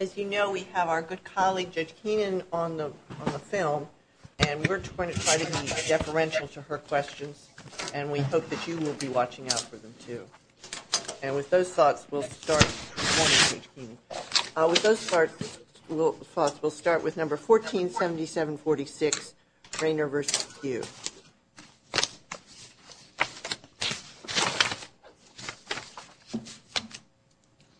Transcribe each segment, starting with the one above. As you know, we have our good colleague, Judge Keenan, on the film, and we're going to try to be deferential to her questions, and we hope that you will be watching out for them, too. And with those thoughts, we'll start with number 147746, Raynor v. Pugh.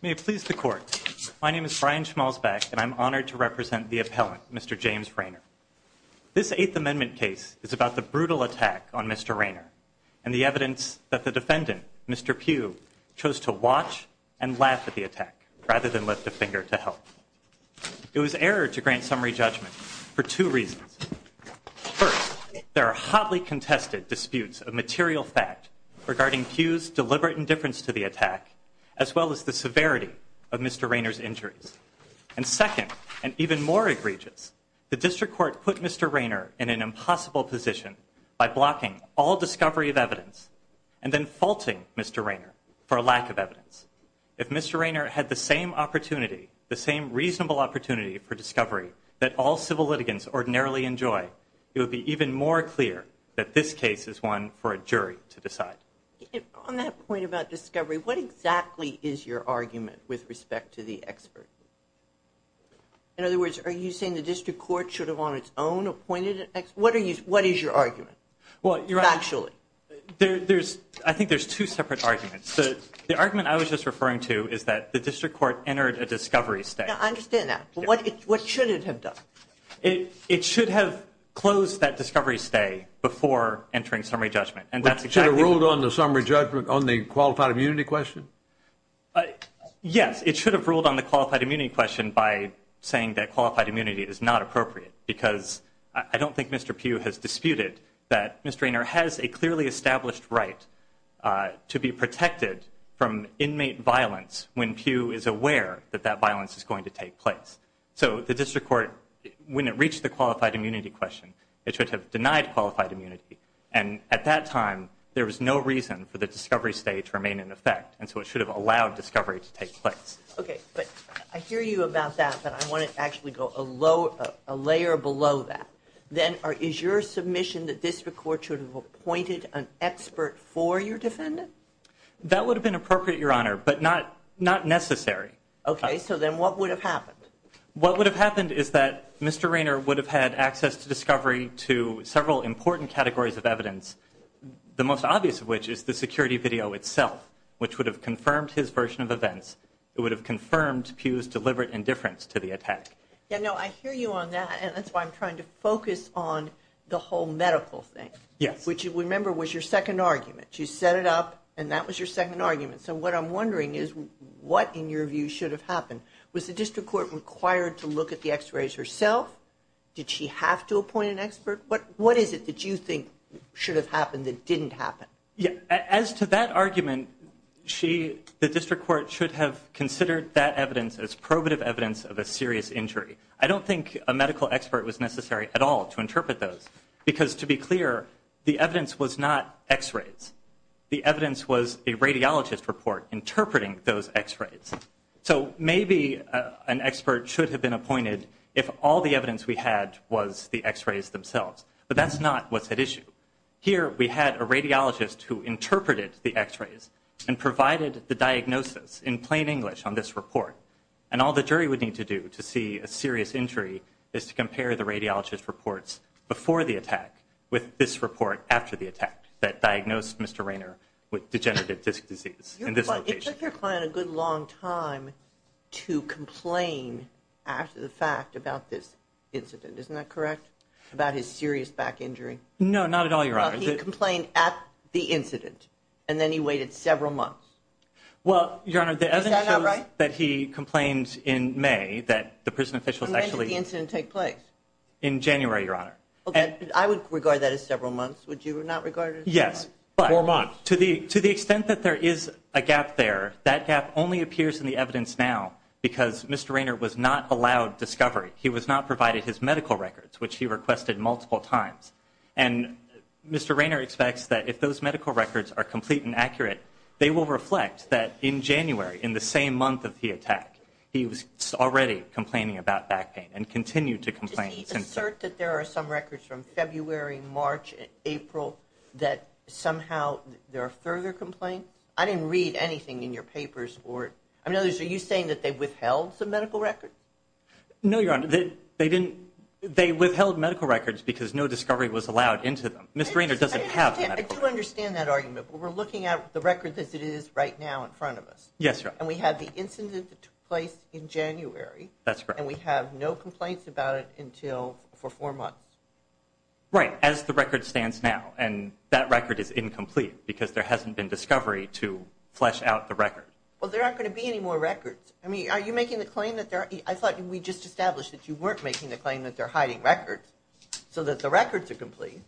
May it please the Court, my name is Brian Schmalzbeck, and I'm honored to represent the appellant, Mr. James Raynor. This Eighth Amendment case is about the brutal attack on Mr. Raynor and the evidence that the defendant, Mr. Pugh, chose to watch and laugh at the attack rather than lift a finger to help. It was error to grant summary judgment for two reasons. First, there are hotly contested disputes of material fact regarding Pugh's deliberate indifference to the attack, as well as the severity of Mr. Raynor's injuries. And second, and even more egregious, the District Court put Mr. Raynor in an impossible position by blocking all discovery of evidence and then faulting Mr. Raynor for a lack of evidence. If Mr. Raynor had the same opportunity, the same reasonable opportunity for discovery that all civil litigants ordinarily enjoy, it would be even more clear that this case is one for a jury to decide. On that point about discovery, what exactly is your argument with respect to the expert? In other words, are you saying the District Court should have on its own appointed an expert? What is your argument, factually? I think there's two separate arguments. The argument I was just referring to is that the District Court entered a discovery stay. I understand that. But what should it have done? It should have closed that discovery stay before entering summary judgment. It should have ruled on the summary judgment on the qualified immunity question? Yes. It should have ruled on the qualified immunity question by saying that qualified immunity is not appropriate. Because I don't think Mr. Pugh has disputed that Mr. Raynor has a clearly established right to be protected from inmate violence when Pugh is aware that that violence is going to take place. So the District Court, when it reached the qualified immunity question, it should have denied qualified immunity. And at that time, there was no reason for the discovery stay to remain in effect. And so it should have allowed discovery to take place. Okay. But I hear you about that, but I want to actually go a layer below that. Then is your submission that District Court should have appointed an expert for your defendant? That would have been appropriate, Your Honor, but not necessary. Okay. So then what would have happened? What would have happened is that Mr. Raynor would have had access to discovery to several important categories of evidence, the most obvious of which is the security video itself, which would have confirmed his version of events. It would have confirmed Pugh's deliberate indifference to the attack. Yeah, no, I hear you on that, and that's why I'm trying to focus on the whole medical thing. Yes. Which, remember, was your second argument. You set it up, and that was your second argument. So what I'm wondering is what, in your view, should have happened? Was the District Court required to look at the x-rays herself? Did she have to appoint an expert? What is it that you think should have happened that didn't happen? As to that argument, the District Court should have considered that evidence as probative evidence of a serious injury. I don't think a medical expert was necessary at all to interpret those because, to be clear, the evidence was not x-rays. So maybe an expert should have been appointed if all the evidence we had was the x-rays themselves. But that's not what's at issue. Here we had a radiologist who interpreted the x-rays and provided the diagnosis in plain English on this report, and all the jury would need to do to see a serious injury is to compare the radiologist's reports before the attack with this report after the attack that diagnosed Mr. Rainer with degenerative disc disease in this location. It took your client a good long time to complain after the fact about this incident, isn't that correct? About his serious back injury? No, not at all, Your Honor. He complained at the incident, and then he waited several months. Well, Your Honor, the evidence shows that he complained in May that the prison officials actually… And when did the incident take place? In January, Your Honor. Yes, but to the extent that there is a gap there, that gap only appears in the evidence now because Mr. Rainer was not allowed discovery. He was not provided his medical records, which he requested multiple times. And Mr. Rainer expects that if those medical records are complete and accurate, they will reflect that in January, in the same month of the attack, he was already complaining about back pain and continued to complain. Can you assert that there are some records from February, March, April that somehow there are further complaints? I didn't read anything in your papers. I mean, are you saying that they withheld some medical records? No, Your Honor. They withheld medical records because no discovery was allowed into them. Mr. Rainer doesn't have medical records. I do understand that argument, but we're looking at the record as it is right now in front of us. Yes, Your Honor. And we have the incident that took place in January. That's correct. And we have no complaints about it until for four months. Right, as the record stands now. And that record is incomplete because there hasn't been discovery to flesh out the record. Well, there aren't going to be any more records. I mean, are you making the claim that there are? I thought we just established that you weren't making the claim that they're hiding records so that the records are complete.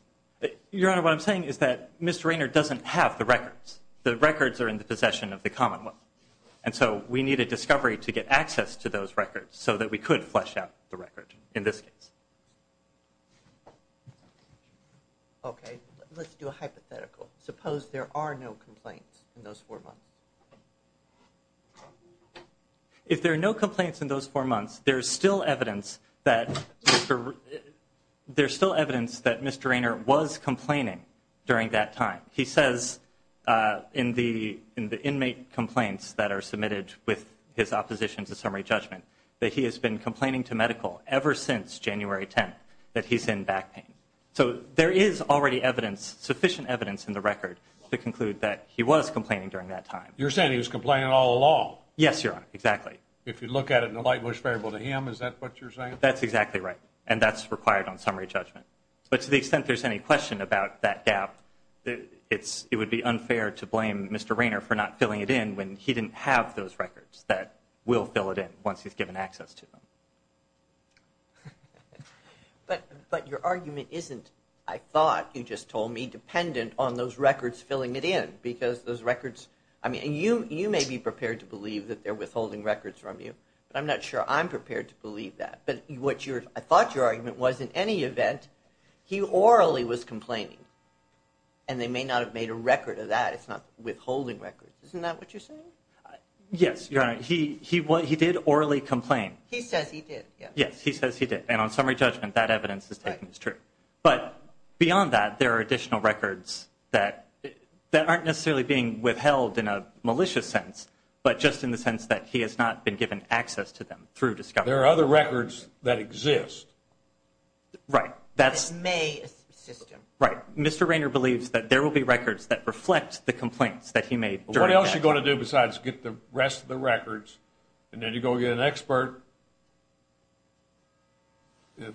Your Honor, what I'm saying is that Mr. Rainer doesn't have the records. The records are in the possession of the commonwealth. And so we need a discovery to get access to those records so that we could flesh out the record in this case. Okay. Let's do a hypothetical. Suppose there are no complaints in those four months. If there are no complaints in those four months, there's still evidence that Mr. Rainer was complaining during that time. Your Honor, he says in the inmate complaints that are submitted with his opposition to summary judgment that he has been complaining to medical ever since January 10th that he's in back pain. So there is already sufficient evidence in the record to conclude that he was complaining during that time. You're saying he was complaining all along? Yes, Your Honor, exactly. If you look at it in a light-wish variable to him, is that what you're saying? That's exactly right. And that's required on summary judgment. But to the extent there's any question about that gap, it would be unfair to blame Mr. Rainer for not filling it in when he didn't have those records that will fill it in once he's given access to them. But your argument isn't, I thought you just told me, dependent on those records filling it in. Because those records, I mean, you may be prepared to believe that they're withholding records from you, but I'm not sure I'm prepared to believe that. But what I thought your argument was, in any event, he orally was complaining, and they may not have made a record of that. It's not withholding records. Isn't that what you're saying? Yes, Your Honor. He did orally complain. He says he did. Yes, he says he did. And on summary judgment, that evidence is taken as true. But beyond that, there are additional records that aren't necessarily being withheld in a malicious sense, but just in the sense that he has not been given access to them through discovery. There are other records that exist. Right. That may exist. Right. Mr. Rainer believes that there will be records that reflect the complaints that he made. What else are you going to do besides get the rest of the records, and then you go get an expert?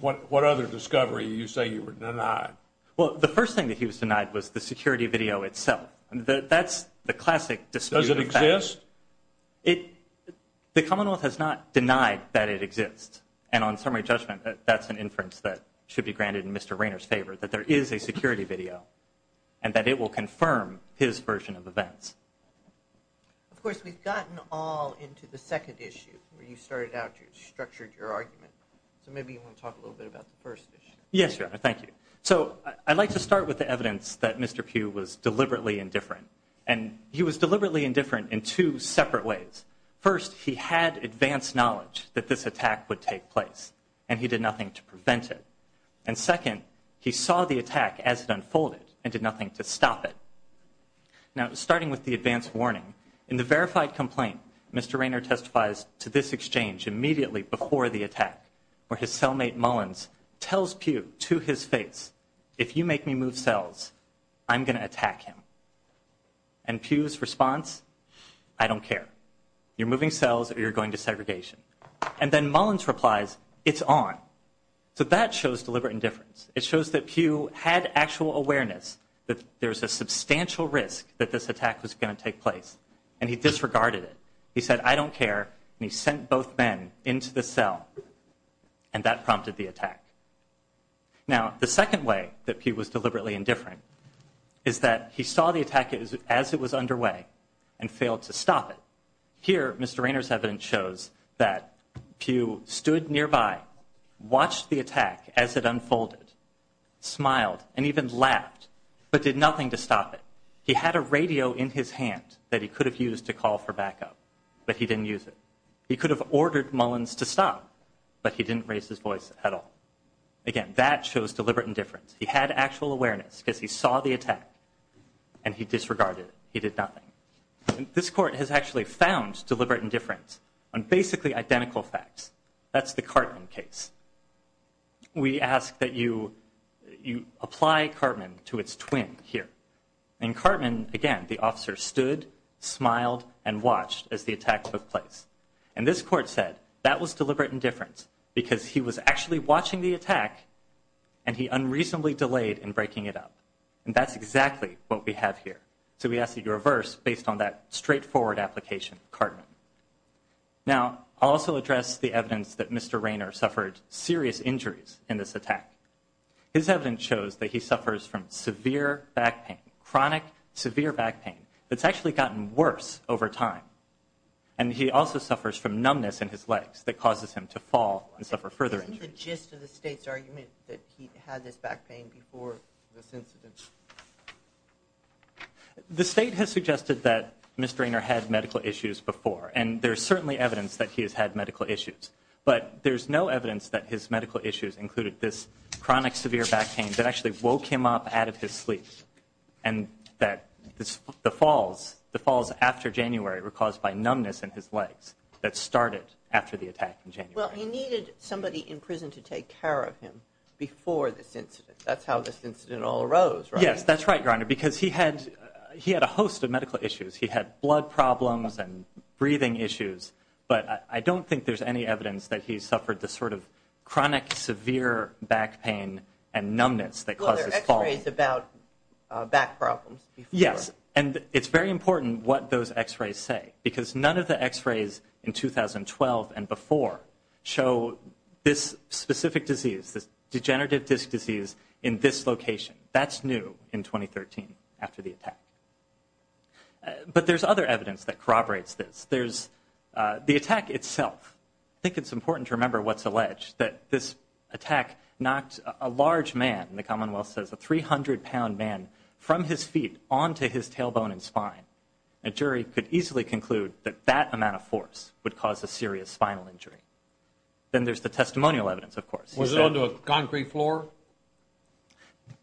What other discovery did you say you were denied? Well, the first thing that he was denied was the security video itself. That's the classic dispute. Does it exist? The Commonwealth has not denied that it exists. And on summary judgment, that's an inference that should be granted in Mr. Rainer's favor, that there is a security video and that it will confirm his version of events. Of course, we've gotten all into the second issue where you started out, you structured your argument. So maybe you want to talk a little bit about the first issue. Yes, Your Honor. Thank you. So I'd like to start with the evidence that Mr. Pugh was deliberately indifferent. And he was deliberately indifferent in two separate ways. First, he had advanced knowledge that this attack would take place, and he did nothing to prevent it. And second, he saw the attack as it unfolded and did nothing to stop it. Now, starting with the advanced warning, in the verified complaint, Mr. Rainer testifies to this exchange immediately before the attack, where his cellmate Mullins tells Pugh to his face, if you make me move cells, I'm going to attack him. And Pugh's response, I don't care. You're moving cells or you're going to segregation. And then Mullins replies, it's on. So that shows deliberate indifference. It shows that Pugh had actual awareness that there's a substantial risk that this attack was going to take place. And he disregarded it. He said, I don't care, and he sent both men into the cell. And that prompted the attack. Now, the second way that Pugh was deliberately indifferent is that he saw the attack as it was underway and failed to stop it. Here, Mr. Rainer's evidence shows that Pugh stood nearby, watched the attack as it unfolded, smiled, and even laughed, but did nothing to stop it. He had a radio in his hand that he could have used to call for backup, but he didn't use it. He could have ordered Mullins to stop, but he didn't raise his voice at all. Again, that shows deliberate indifference. He had actual awareness because he saw the attack, and he disregarded it. He did nothing. This court has actually found deliberate indifference on basically identical facts. That's the Cartman case. We ask that you apply Cartman to its twin here. In Cartman, again, the officer stood, smiled, and watched as the attack took place. And this court said that was deliberate indifference because he was actually watching the attack, and he unreasonably delayed in breaking it up. And that's exactly what we have here. So we ask that you reverse based on that straightforward application of Cartman. Now, I'll also address the evidence that Mr. Rainer suffered serious injuries in this attack. His evidence shows that he suffers from severe back pain, chronic, severe back pain. It's actually gotten worse over time. And he also suffers from numbness in his legs that causes him to fall and suffer further injuries. Isn't the gist of the State's argument that he had this back pain before this incident? The State has suggested that Mr. Rainer had medical issues before, and there's certainly evidence that he has had medical issues. But there's no evidence that his medical issues included this chronic, severe back pain that actually woke him up out of his sleep, and that the falls after January were caused by numbness in his legs that started after the attack in January. Well, he needed somebody in prison to take care of him before this incident. That's how this incident all arose, right? Yes, that's right, Your Honor, because he had a host of medical issues. He had blood problems and breathing issues. But I don't think there's any evidence that he suffered the sort of chronic, severe back pain and numbness that causes falling. Well, there are x-rays about back problems before. Yes, and it's very important what those x-rays say, because none of the x-rays in 2012 and before show this specific disease, this degenerative disc disease, in this location. That's new in 2013 after the attack. But there's other evidence that corroborates this. There's the attack itself. I think it's important to remember what's alleged, that this attack knocked a large man, the Commonwealth says a 300-pound man, from his feet onto his tailbone and spine. A jury could easily conclude that that amount of force would cause a serious spinal injury. Then there's the testimonial evidence, of course. Was it onto a concrete floor?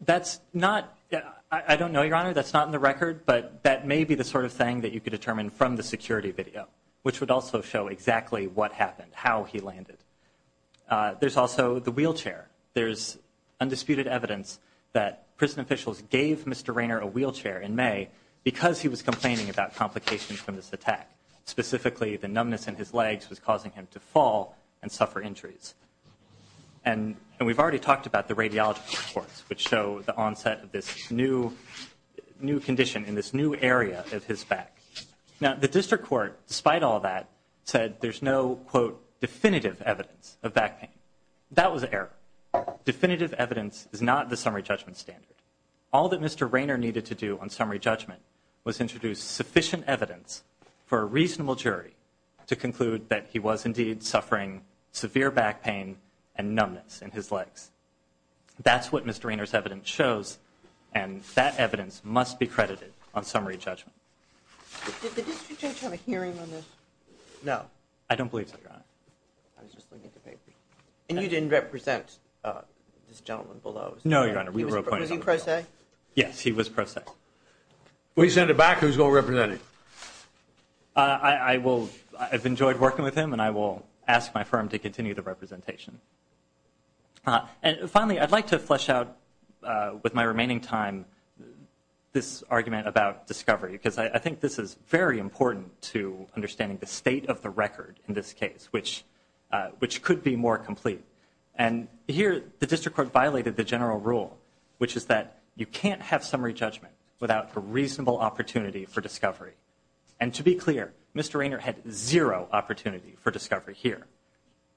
That's not – I don't know, Your Honor, that's not in the record, but that may be the sort of thing that you could determine from the security video, which would also show exactly what happened, how he landed. There's also the wheelchair. There's undisputed evidence that prison officials gave Mr. Rainer a wheelchair in May because he was complaining about complications from this attack, specifically the numbness in his legs was causing him to fall and suffer injuries. And we've already talked about the radiology reports, which show the onset of this new condition in this new area of his back. Now, the district court, despite all that, said there's no, quote, definitive evidence of back pain. That was an error. Definitive evidence is not the summary judgment standard. All that Mr. Rainer needed to do on summary judgment was introduce sufficient evidence for a reasonable jury to conclude that he was indeed suffering severe back pain and numbness in his legs. That's what Mr. Rainer's evidence shows, and that evidence must be credited on summary judgment. Did the district judge have a hearing on this? No. I don't believe so, Your Honor. I was just looking at the paper. And you didn't represent this gentleman below? No, Your Honor. Was he pro se? Yes, he was pro se. Well, he sent it back. Who's going to represent him? I've enjoyed working with him, and I will ask my firm to continue the representation. And finally, I'd like to flesh out with my remaining time this argument about discovery, because I think this is very important to understanding the state of the record in this case, which could be more complete. And here the district court violated the general rule, which is that you can't have summary judgment without a reasonable opportunity for discovery. And to be clear, Mr. Rainer had zero opportunity for discovery here.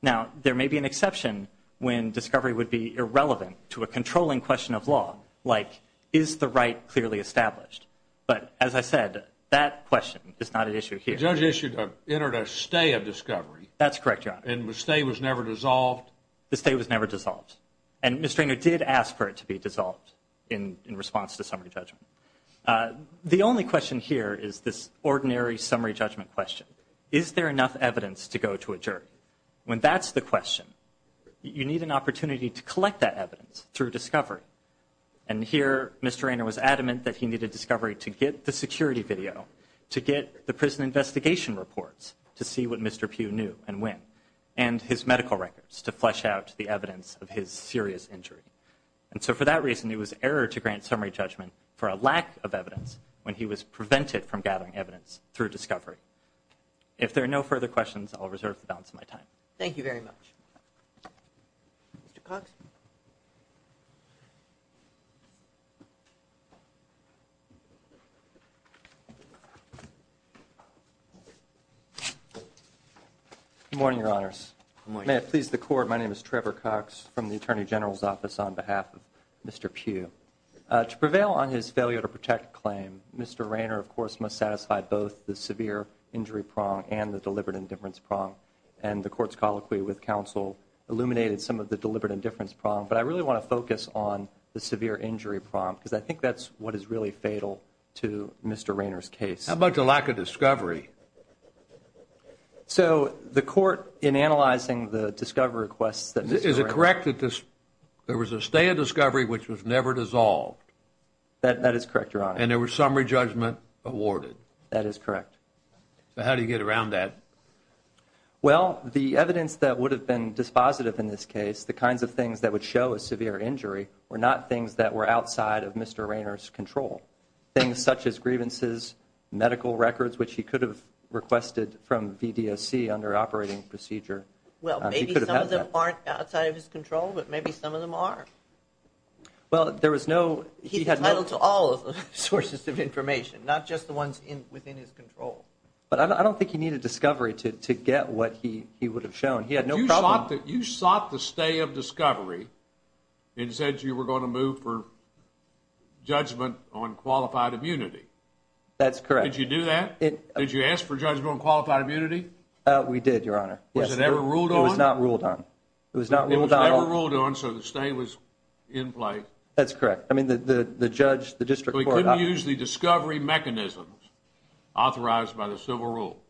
Now, there may be an exception when discovery would be irrelevant to a controlling question of law, like is the right clearly established? But, as I said, that question is not an issue here. The judge entered a stay of discovery. That's correct, Your Honor. And the stay was never dissolved? The stay was never dissolved. And Mr. Rainer did ask for it to be dissolved in response to summary judgment. The only question here is this ordinary summary judgment question. Is there enough evidence to go to a jury? When that's the question, you need an opportunity to collect that evidence through discovery. And here Mr. Rainer was adamant that he needed discovery to get the security video, to get the prison investigation reports to see what Mr. Pugh knew and when, and his medical records to flesh out the evidence of his serious injury. And so for that reason, it was error to grant summary judgment for a lack of evidence when he was prevented from gathering evidence through discovery. If there are no further questions, I'll reserve the balance of my time. Thank you very much. Mr. Cox? Good morning, Your Honors. Good morning. May it please the Court, my name is Trevor Cox from the Attorney General's Office on behalf of Mr. Pugh. To prevail on his failure to protect claim, Mr. Rainer, of course, must satisfy both the severe injury prong and the deliberate indifference prong. And the Court's colloquy with counsel illuminated some of the deliberate indifference prong. But I really want to focus on the severe injury prong because I think that's what is really fatal to Mr. Rainer's case. How about the lack of discovery? So the Court, in analyzing the discovery requests that Mr. Rainer There was a stay of discovery which was never dissolved. That is correct, Your Honor. And there was summary judgment awarded. That is correct. So how do you get around that? Well, the evidence that would have been dispositive in this case, the kinds of things that would show a severe injury, were not things that were outside of Mr. Rainer's control. Things such as grievances, medical records, which he could have requested from VDSC under operating procedure. Well, maybe some of them aren't outside of his control, but maybe some of them are. Well, there was no He's entitled to all sources of information, not just the ones within his control. But I don't think he needed discovery to get what he would have shown. He had no problem You sought the stay of discovery and said you were going to move for judgment on qualified immunity. That's correct. Did you do that? Did you ask for judgment on qualified immunity? We did, Your Honor. Was it ever ruled on? It was not ruled on. It was not ruled on. It was never ruled on, so the stay was in place. That's correct. I mean, the judge, the district court So he couldn't use the discovery mechanisms authorized by the civil rule.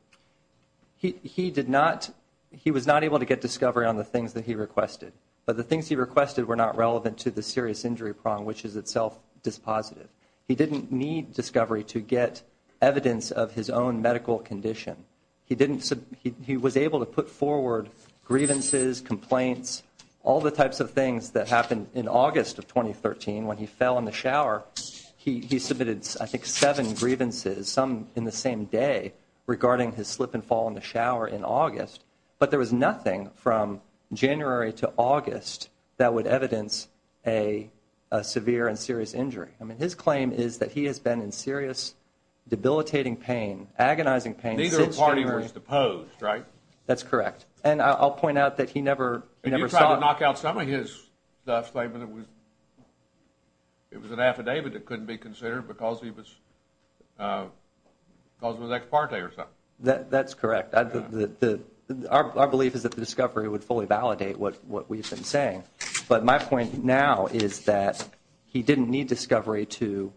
He did not. He was not able to get discovery on the things that he requested. But the things he requested were not relevant to the serious injury prong, which is itself dispositive. He didn't need discovery to get evidence of his own medical condition. He was able to put forward grievances, complaints, all the types of things that happened in August of 2013 when he fell in the shower. He submitted, I think, seven grievances, some in the same day, regarding his slip and fall in the shower in August. But there was nothing from January to August that would evidence a severe and serious injury. I mean, his claim is that he has been in serious debilitating pain, agonizing pain And neither party was deposed, right? That's correct. And I'll point out that he never saw And you tried to knock out some of his statement. It was an affidavit that couldn't be considered because he was ex parte or something. That's correct. Our belief is that the discovery would fully validate what we've been saying. But my point now is that he didn't need discovery to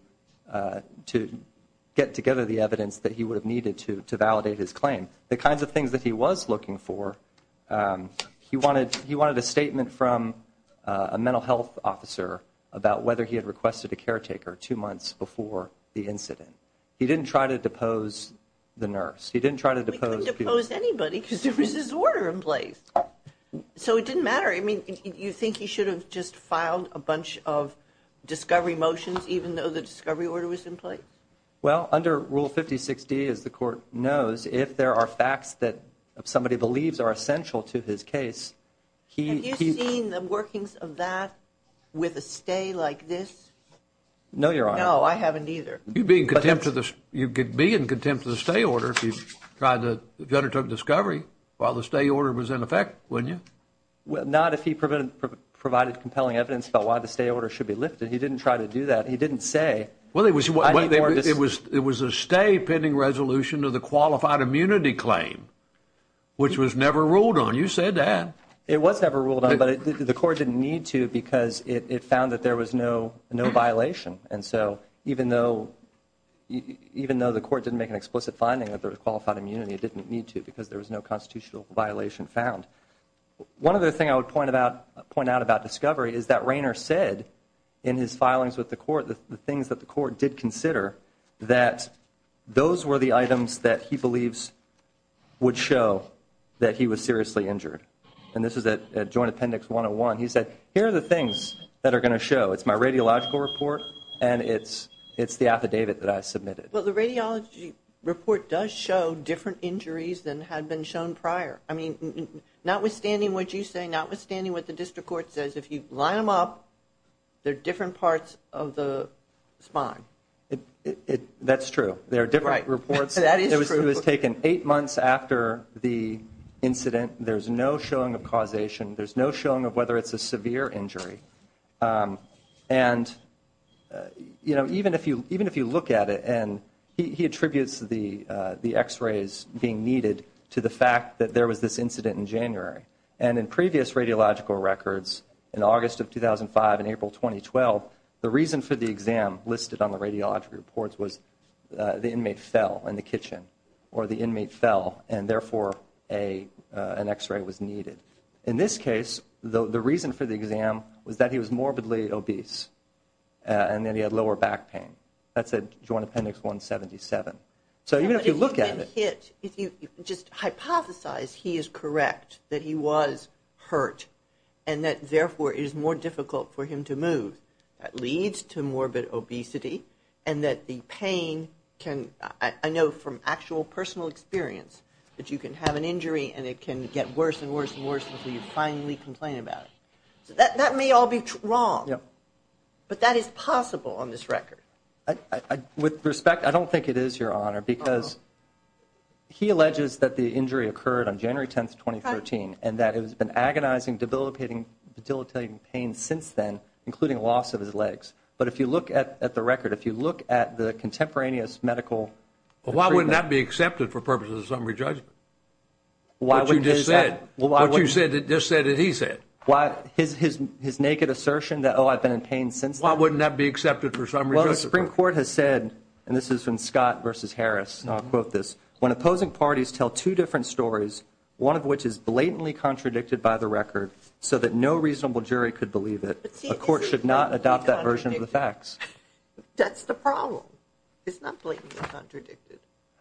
get together the evidence that he would have needed to validate his claim. The kinds of things that he was looking for, he wanted a statement from a mental health officer about whether he had requested a caretaker two months before the incident. He didn't try to depose the nurse. He didn't try to depose people. He couldn't depose anybody because there was this order in place. So it didn't matter. I mean, you think he should have just filed a bunch of discovery motions even though the discovery order was in place? Well, under Rule 56D, as the court knows, if there are facts that somebody believes are essential to his case, he Have you seen the workings of that with a stay like this? No, Your Honor. No, I haven't either. You could be in contempt of the stay order if you undertook discovery while the stay order was in effect, wouldn't you? Not if he provided compelling evidence about why the stay order should be lifted. He didn't try to do that. He didn't say. Well, it was a stay pending resolution of the qualified immunity claim, which was never ruled on. You said that. It was never ruled on, but the court didn't need to because it found that there was no violation. And so even though the court didn't make an explicit finding that there was qualified immunity, it didn't need to because There was no constitutional violation found. One other thing I would point out about discovery is that Rayner said in his filings with the court the things that the court Did consider that those were the items that he believes would show that he was seriously injured. And this is at Joint Appendix 101. He said, here are the things that are going to show. It's my radiological report and it's the affidavit that I submitted. Well, the radiology report does show different injuries than had been shown prior. I mean, notwithstanding what you say, notwithstanding what the district court says, if you line them up, they're different parts of the spine. That's true. There are different reports. That is true. It was taken eight months after the incident. There's no showing of causation. There's no showing of whether it's a severe injury. And, you know, even if you look at it, and he attributes the x-rays being needed to the fact that there was this incident in January. And in previous radiological records, in August of 2005 and April 2012, the reason for the exam listed on the radiology reports was the Inmate fell in the kitchen or the inmate fell and, therefore, an x-ray was needed. In this case, the reason for the exam was that he was morbidly obese and that he had lower back pain. That's at Joint Appendix 177. So even if you look at it. But if you just hypothesize he is correct, that he was hurt, and that, therefore, it is more difficult for him to move, that leads to morbid obesity. And that the pain can, I know from actual personal experience, that you can have an injury and it can get worse and worse and worse until you finally complain about it. So that may all be wrong, but that is possible on this record. With respect, I don't think it is, Your Honor, because he alleges that the injury occurred on January 10th, 2013, and that it has been agonizing, debilitating pain since then, including loss of his legs. But if you look at the record, if you look at the contemporaneous medical treatment. Well, why would that be accepted for purposes of summary judgment? What you just said. What you just said that he said. His naked assertion that, oh, I've been in pain since then. Why wouldn't that be accepted for summary judgment? Well, the Supreme Court has said, and this is from Scott v. Harris, and I'll quote this. When opposing parties tell two different stories, one of which is blatantly contradicted by the record so that no reasonable jury could believe it, a court should not adopt that version of the facts. That's the problem. It's not blatantly contradicted.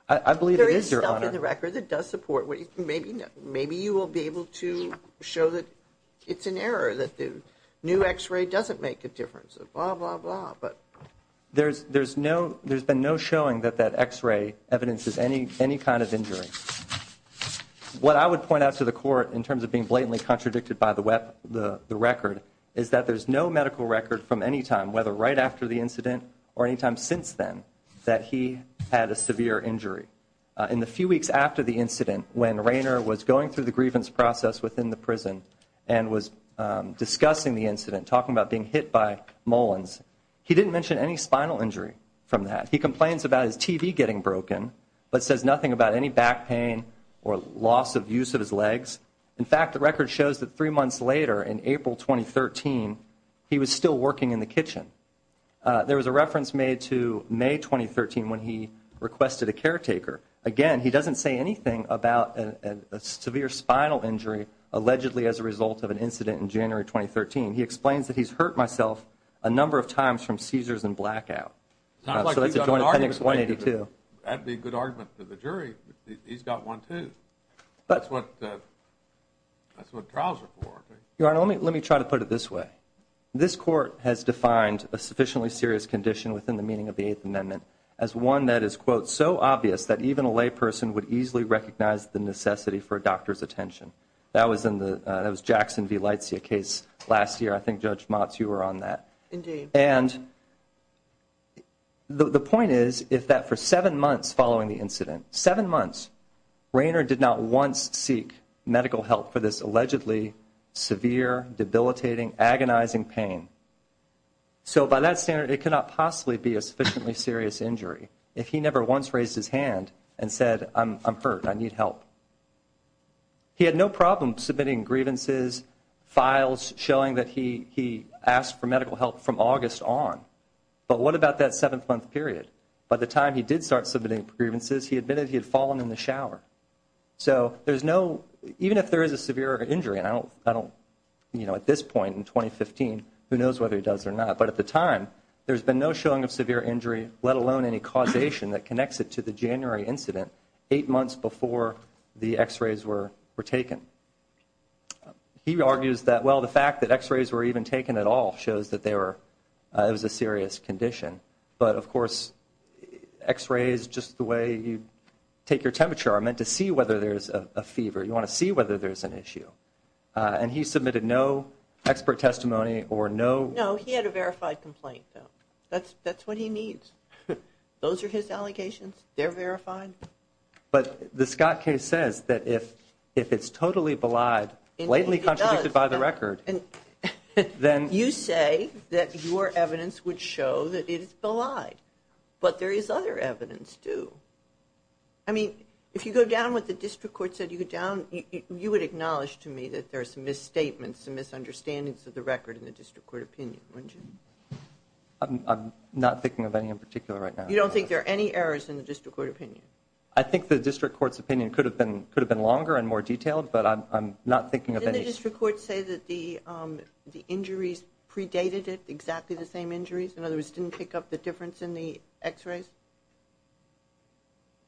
I believe it is, Your Honor. There is stuff in the record that does support it. Maybe you will be able to show that it's an error, that the new X-ray doesn't make a difference, blah, blah, blah. There's been no showing that that X-ray evidences any kind of injury. What I would point out to the court in terms of being blatantly contradicted by the record is that there's no medical record from any time, whether right after the incident or any time since then, that he had a severe injury. In the few weeks after the incident, when Rayner was going through the grievance process within the prison and was discussing the incident, talking about being hit by mullins, he didn't mention any spinal injury from that. He complains about his TV getting broken but says nothing about any back pain or loss of use of his legs. In fact, the record shows that three months later, in April 2013, he was still working in the kitchen. There was a reference made to May 2013 when he requested a caretaker. Again, he doesn't say anything about a severe spinal injury allegedly as a result of an incident in January 2013. He explains that he's hurt myself a number of times from seizures and blackout. So that's a joint argument. That would be a good argument to the jury. He's got one, too. That's what trials are for. Your Honor, let me try to put it this way. This court has defined a sufficiently serious condition within the meaning of the Eighth Amendment as one that is, quote, so obvious that even a lay person would easily recognize the necessity for a doctor's attention. That was Jackson v. Leitzia case last year. I think, Judge Motz, you were on that. Indeed. And the point is that for seven months following the incident, seven months, Rayner did not once seek medical help for this allegedly severe, debilitating, agonizing pain. So by that standard, it could not possibly be a sufficiently serious injury if he never once raised his hand and said, I'm hurt, I need help. He had no problem submitting grievances, files showing that he asked for medical help from August on. But what about that seven-month period? By the time he did start submitting grievances, he admitted he had fallen in the shower. So there's no, even if there is a severe injury, and I don't, you know, at this point in 2015, who knows whether he does or not, but at the time, there's been no showing of severe injury, let alone any causation that connects it to the January incident, eight months before the x-rays were taken. He argues that, well, the fact that x-rays were even taken at all shows that they were, it was a serious condition. But, of course, x-rays, just the way you take your temperature, are meant to see whether there's a fever. You want to see whether there's an issue. And he submitted no expert testimony or no. No, he had a verified complaint, though. That's what he needs. Those are his allegations. They're verified. But the Scott case says that if it's totally belied, blatantly contradicted by the record, then... You say that your evidence would show that it is belied, but there is other evidence, too. I mean, if you go down what the district court said, you would acknowledge to me that there are some misstatements, some misunderstandings of the record in the district court opinion, wouldn't you? I'm not thinking of any in particular right now. You don't think there are any errors in the district court opinion? I think the district court's opinion could have been longer and more detailed, but I'm not thinking of any. Didn't the district court say that the injuries predated it, exactly the same injuries? In other words, it didn't pick up the difference in the x-rays?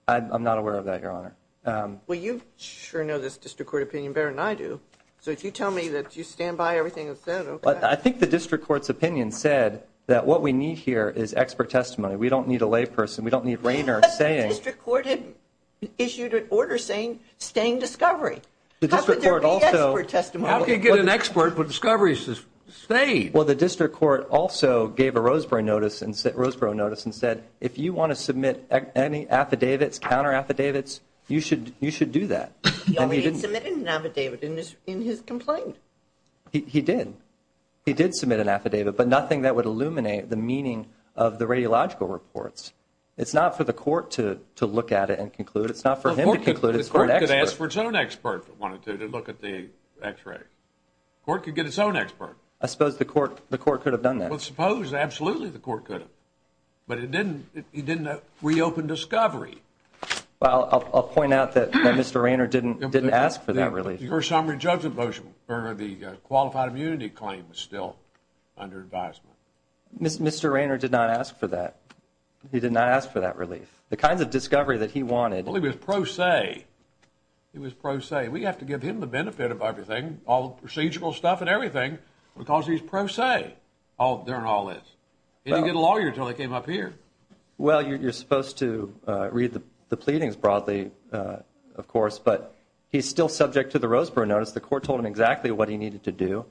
I'm not aware of that, Your Honor. Well, you sure know this district court opinion better than I do. So if you tell me that you stand by everything that's said, okay. Well, I think the district court's opinion said that what we need here is expert testimony. We don't need a layperson. We don't need Rayner saying... But the district court had issued an order saying, staying discovery. The district court also... How could there be expert testimony? How could you get an expert with discoveries to stay? Well, the district court also gave a Roseboro notice and said, if you want to submit any affidavits, counter affidavits, you should do that. He only submitted an affidavit in his complaint. He did. He did submit an affidavit, but nothing that would illuminate the meaning of the radiological reports. It's not for the court to look at it and conclude. It's not for him to conclude. The court could ask for its own expert to look at the x-ray. The court could get its own expert. I suppose the court could have done that. I suppose absolutely the court could have. But it didn't reopen discovery. Well, I'll point out that Mr. Rayner didn't ask for that release. Your summary judgment motion for the qualified immunity claim is still under advisement. Mr. Rayner did not ask for that. He did not ask for that relief. The kinds of discovery that he wanted... Well, it was pro se. It was pro se. We have to give him the benefit of everything, all the procedural stuff and everything, because he's pro se, there and all this. He didn't get a lawyer until he came up here. Well, you're supposed to read the pleadings broadly, of course, but he's still subject to the Roseboro Notice. The court told him exactly what he needed to do.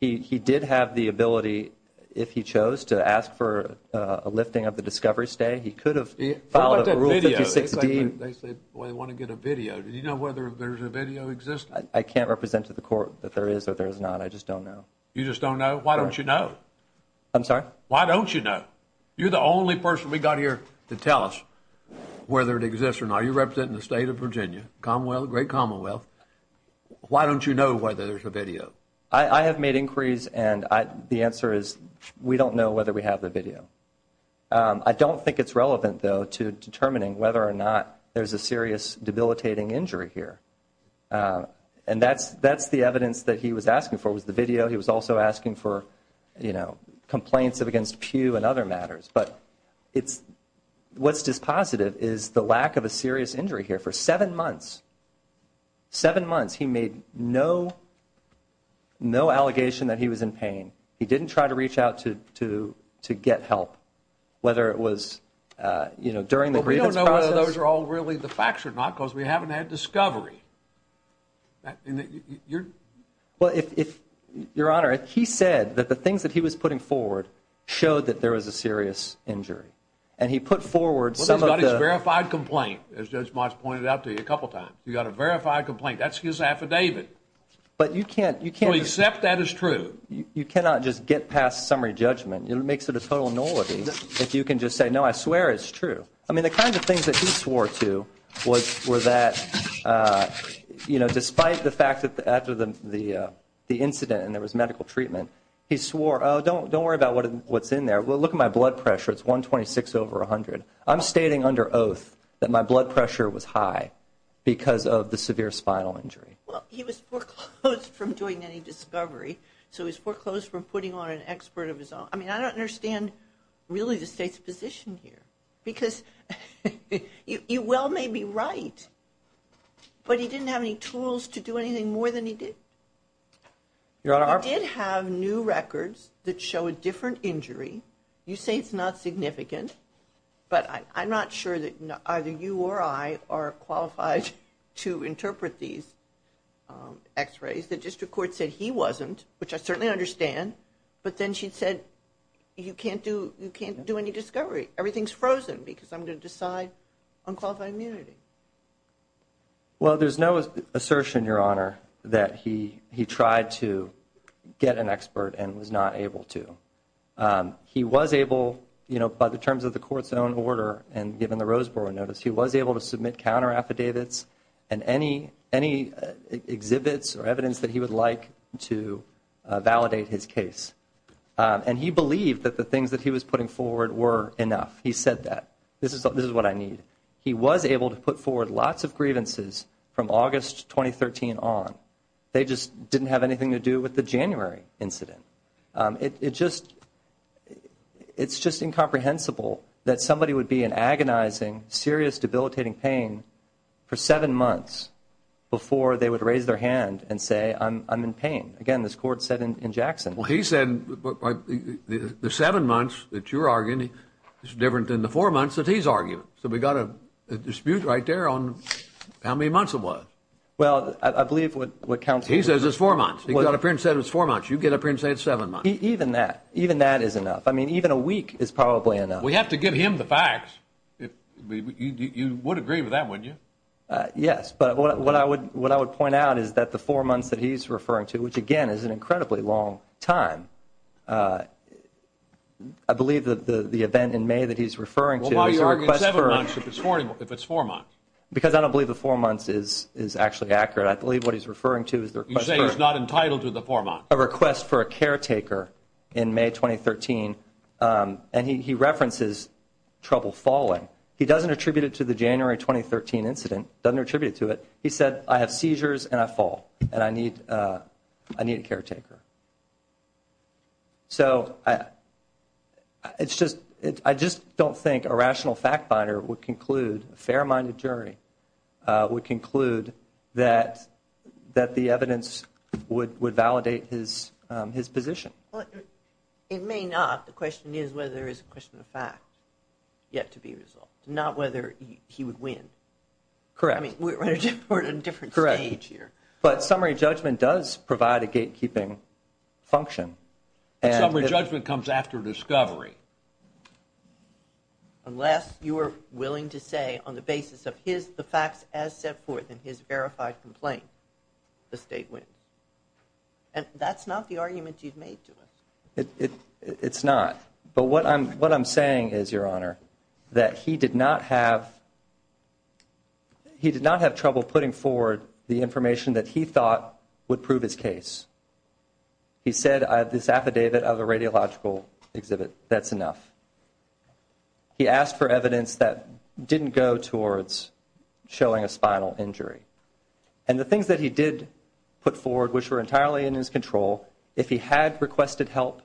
He did have the ability, if he chose, to ask for a lifting of the discovery stay. He could have followed up a Rule 56D. What about that video? They said, well, they want to get a video. Do you know whether there's a video existing? I can't represent to the court that there is or there is not. I just don't know. You just don't know? Why don't you know? I'm sorry? Why don't you know? You're the only person we got here to tell us whether it exists or not. Are you representing the State of Virginia, Commonwealth, Great Commonwealth? Why don't you know whether there's a video? I have made inquiries, and the answer is we don't know whether we have the video. I don't think it's relevant, though, to determining whether or not there's a serious debilitating injury here. And that's the evidence that he was asking for was the video. He was also asking for complaints against Pew and other matters. But what's just positive is the lack of a serious injury here. For seven months, seven months, he made no allegation that he was in pain. He didn't try to reach out to get help, whether it was during the grievance process. Well, we don't know whether those are all really the facts or not because we haven't had discovery. Well, Your Honor, he said that the things that he was putting forward showed that there was a serious injury. And he put forward some of the- Well, he's got his verified complaint, as Judge March pointed out to you a couple of times. He's got a verified complaint. That's his affidavit. But you can't- Except that is true. You cannot just get past summary judgment. It makes it a total nullity if you can just say, no, I swear it's true. I mean, the kinds of things that he swore to were that, you know, despite the fact that after the incident and there was medical treatment, he swore, oh, don't worry about what's in there. Well, look at my blood pressure. It's 126 over 100. I'm stating under oath that my blood pressure was high because of the severe spinal injury. Well, he was foreclosed from doing any discovery. So he was foreclosed from putting on an expert of his own. I mean, I don't understand really the State's position here because you well may be right, but he didn't have any tools to do anything more than he did. He did have new records that show a different injury. You say it's not significant, but I'm not sure that either you or I are qualified to interpret these X-rays. The district court said he wasn't, which I certainly understand, but then she said you can't do any discovery. Everything's frozen because I'm going to decide on qualified immunity. Well, there's no assertion, Your Honor, that he tried to get an expert and was not able to. He was able, you know, by the terms of the court's own order and given the Roseboro notice, he was able to submit counter affidavits and any exhibits or evidence that he would like to validate his case. And he believed that the things that he was putting forward were enough. He said that. This is what I need. He was able to put forward lots of grievances from August 2013 on. They just didn't have anything to do with the January incident. It's just incomprehensible that somebody would be in agonizing, serious, debilitating pain for seven months before they would raise their hand and say, I'm in pain. Again, this court said in Jackson. Well, he said the seven months that you're arguing is different than the four months that he's arguing. So we've got a dispute right there on how many months it was. Well, I believe what counsel said. He says it's four months. He's got a print set of four months. You get a print set of seven months. Even that. Even that is enough. I mean, even a week is probably enough. We have to give him the facts. You would agree with that, wouldn't you? Yes, but what I would point out is that the four months that he's referring to, which, again, is an incredibly long time. I believe that the event in May that he's referring to is a request for. Well, why are you arguing seven months if it's four months? Because I don't believe the four months is actually accurate. I believe what he's referring to is the request for. You say he's not entitled to the four months. A request for a caretaker in May 2013, and he references trouble falling. He doesn't attribute it to the January 2013 incident, doesn't attribute it to it. He said, I have seizures and I fall, and I need a caretaker. So, I just don't think a rational fact binder would conclude, a fair-minded jury would conclude that the evidence would validate his position. It may not. The question is whether there is a question of fact yet to be resolved, not whether he would win. Correct. I mean, we're at a different stage here. But summary judgment does provide a gatekeeping function. But summary judgment comes after discovery. Unless you are willing to say on the basis of the facts as set forth in his verified complaint, the state wins. And that's not the argument you've made to him. It's not. But what I'm saying is, Your Honor, that he did not have trouble putting forward the information that he thought would prove his case. He said, I have this affidavit of a radiological exhibit. That's enough. He asked for evidence that didn't go towards showing a spinal injury. And the things that he did put forward, which were entirely in his control, if he had requested help,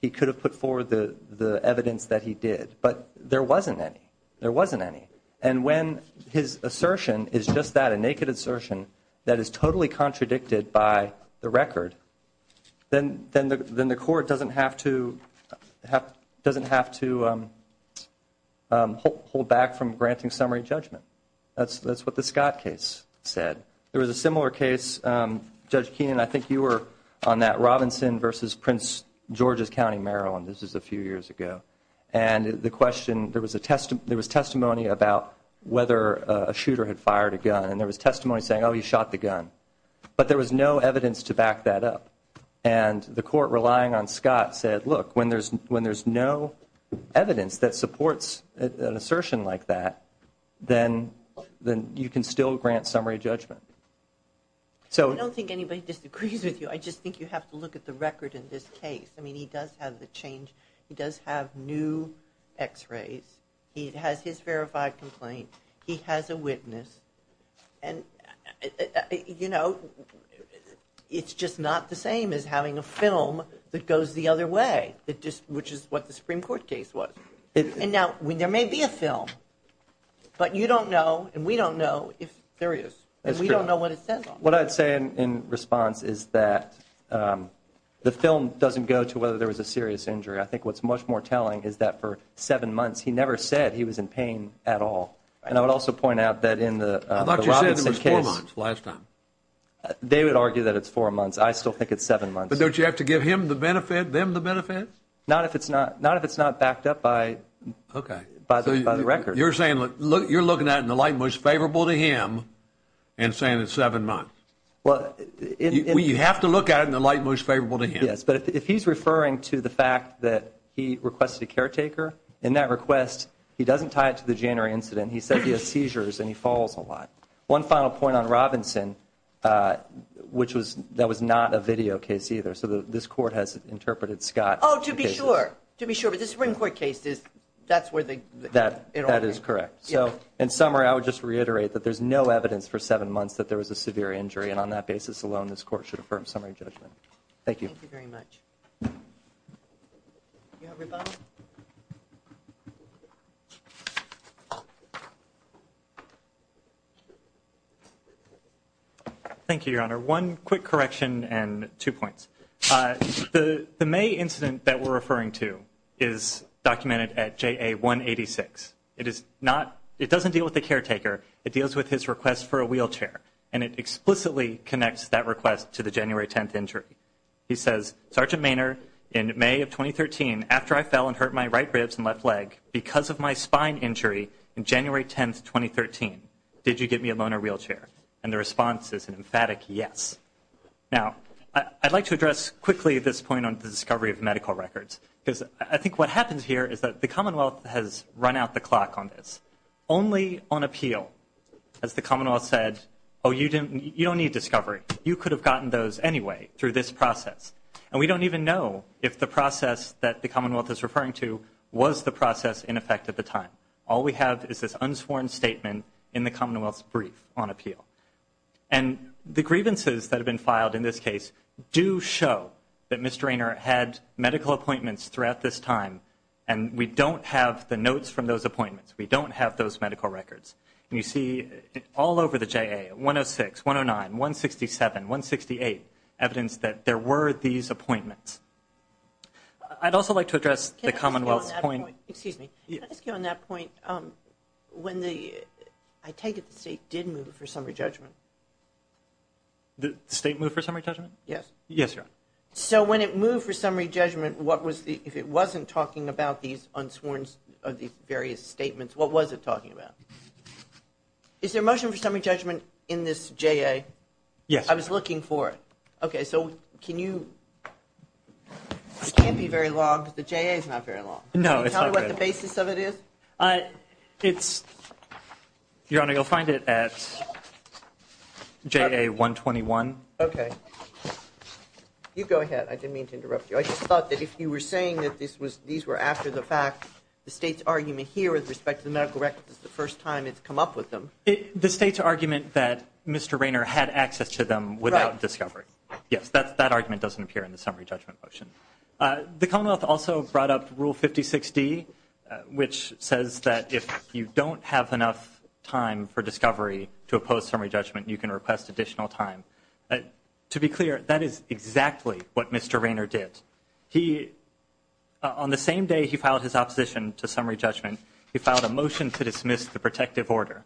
he could have put forward the evidence that he did. But there wasn't any. There wasn't any. And when his assertion is just that, a naked assertion that is totally contradicted by the record, then the court doesn't have to hold back from granting summary judgment. That's what the Scott case said. There was a similar case, Judge Keenan, I think you were on that Robinson v. Prince George's County, Maryland. This was a few years ago. And the question, there was testimony about whether a shooter had fired a gun. And there was testimony saying, oh, he shot the gun. But there was no evidence to back that up. And the court, relying on Scott, said, look, when there's no evidence that supports an assertion like that, then you can still grant summary judgment. I don't think anybody disagrees with you. I just think you have to look at the record in this case. I mean, he does have the change. He does have new x-rays. He has his verified complaint. He has a witness. And, you know, it's just not the same as having a film that goes the other way, which is what the Supreme Court case was. And now, there may be a film, but you don't know and we don't know if there is. And we don't know what it says on it. What I'd say in response is that the film doesn't go to whether there was a serious injury. I think what's much more telling is that for seven months, he never said he was in pain at all. And I would also point out that in the Robinson case. I thought you said it was four months last time. They would argue that it's four months. I still think it's seven months. But don't you have to give him the benefit, them the benefit? Not if it's not backed up by the record. Okay. So you're saying you're looking at it in the light most favorable to him and saying it's seven months. You have to look at it in the light most favorable to him. Yes. But if he's referring to the fact that he requested a caretaker, in that request, he doesn't tie it to the January incident. He said he has seizures and he falls a lot. One final point on Robinson, which was that was not a video case either. So this Court has interpreted Scott. Oh, to be sure. To be sure. But the Supreme Court case is that's where the. That is correct. So in summary, I would just reiterate that there's no evidence for seven months that there was a severe injury. And on that basis alone, this Court should affirm summary judgment. Thank you. Thank you very much. Do you have rebuttal? Thank you, Your Honor. One quick correction and two points. The May incident that we're referring to is documented at JA 186. It is not. It doesn't deal with the caretaker. It deals with his request for a wheelchair. And it explicitly connects that request to the January 10th injury. He says, Sergeant Maynard, in May of 2013, after I fell and hurt my right ribs and left leg, because of my spine injury in January 10th, 2013, did you get me a loaner wheelchair? And the response is an emphatic yes. Now, I'd like to address quickly this point on the discovery of medical records, because I think what happens here is that the Commonwealth has run out the clock on this. As the Commonwealth said, oh, you don't need discovery. You could have gotten those anyway through this process. And we don't even know if the process that the Commonwealth is referring to was the process in effect at the time. All we have is this unsworn statement in the Commonwealth's brief on appeal. And the grievances that have been filed in this case do show that Mr. Rainer had medical appointments throughout this time, and we don't have the notes from those appointments. We don't have those medical records. And you see all over the JA, 106, 109, 167, 168, evidence that there were these appointments. I'd also like to address the Commonwealth's point. Excuse me. Can I ask you on that point, I take it the state did move for summary judgment? The state moved for summary judgment? Yes. Yes, Your Honor. So when it moved for summary judgment, what was the ‑‑ if it wasn't talking about these unsworn various statements, what was it talking about? Is there a motion for summary judgment in this JA? Yes. I was looking for it. Okay. So can you ‑‑ this can't be very long because the JA is not very long. No, it's not very long. Can you tell me what the basis of it is? It's ‑‑ Your Honor, you'll find it at JA 121. Okay. You go ahead. I didn't mean to interrupt you. I just thought that if you were saying that these were after the fact, the state's argument here with respect to the medical records is the first time it's come up with them. The state's argument that Mr. Raynor had access to them without discovery. Right. Yes, that argument doesn't appear in the summary judgment motion. The Commonwealth also brought up Rule 56D, which says that if you don't have enough time for discovery to oppose summary judgment, you can request additional time. To be clear, that is exactly what Mr. Raynor did. He, on the same day he filed his opposition to summary judgment, he filed a motion to dismiss the protective order.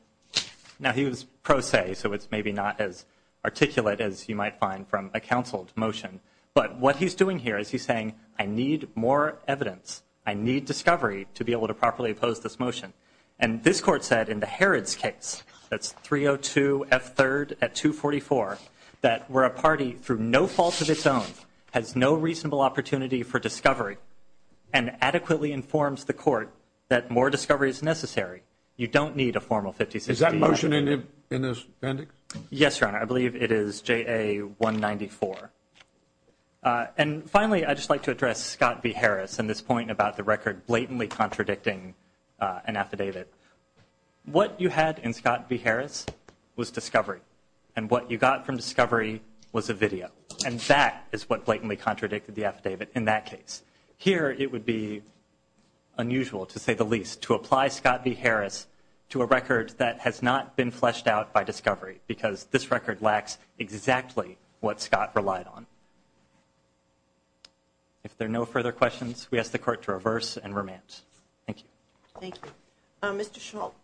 Now, he was pro se, so it's maybe not as articulate as you might find from a counseled motion. But what he's doing here is he's saying, I need more evidence. I need discovery to be able to properly oppose this motion. And this court said in the Harrods case, that's 302F3rd at 244, that where a party through no fault of its own has no reasonable opportunity for discovery and adequately informs the court that more discovery is necessary, you don't need a formal 56D. Is that motion in this mandate? Yes, Your Honor. I believe it is JA194. And finally, I'd just like to address Scott v. Harris and this point about the record blatantly contradicting an affidavit. What you had in Scott v. Harris was discovery. And what you got from discovery was a video. And that is what blatantly contradicted the affidavit in that case. Here, it would be unusual to say the least to apply Scott v. Harris to a record that has not been fleshed out by discovery, because this record lacks exactly what Scott relied on. If there are no further questions, we ask the court to reverse and remand. Thank you. Thank you. Mr. Schmaltz,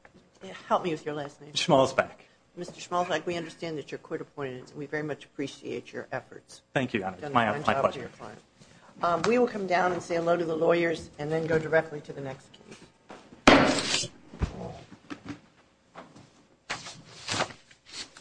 help me with your last name. Mr. Schmaltz-Beck. Mr. Schmaltz-Beck, we understand that you're court-appointed, and we very much appreciate your efforts. Thank you, Your Honor. It's my pleasure. We will come down and say hello to the lawyers and then go directly to the next case.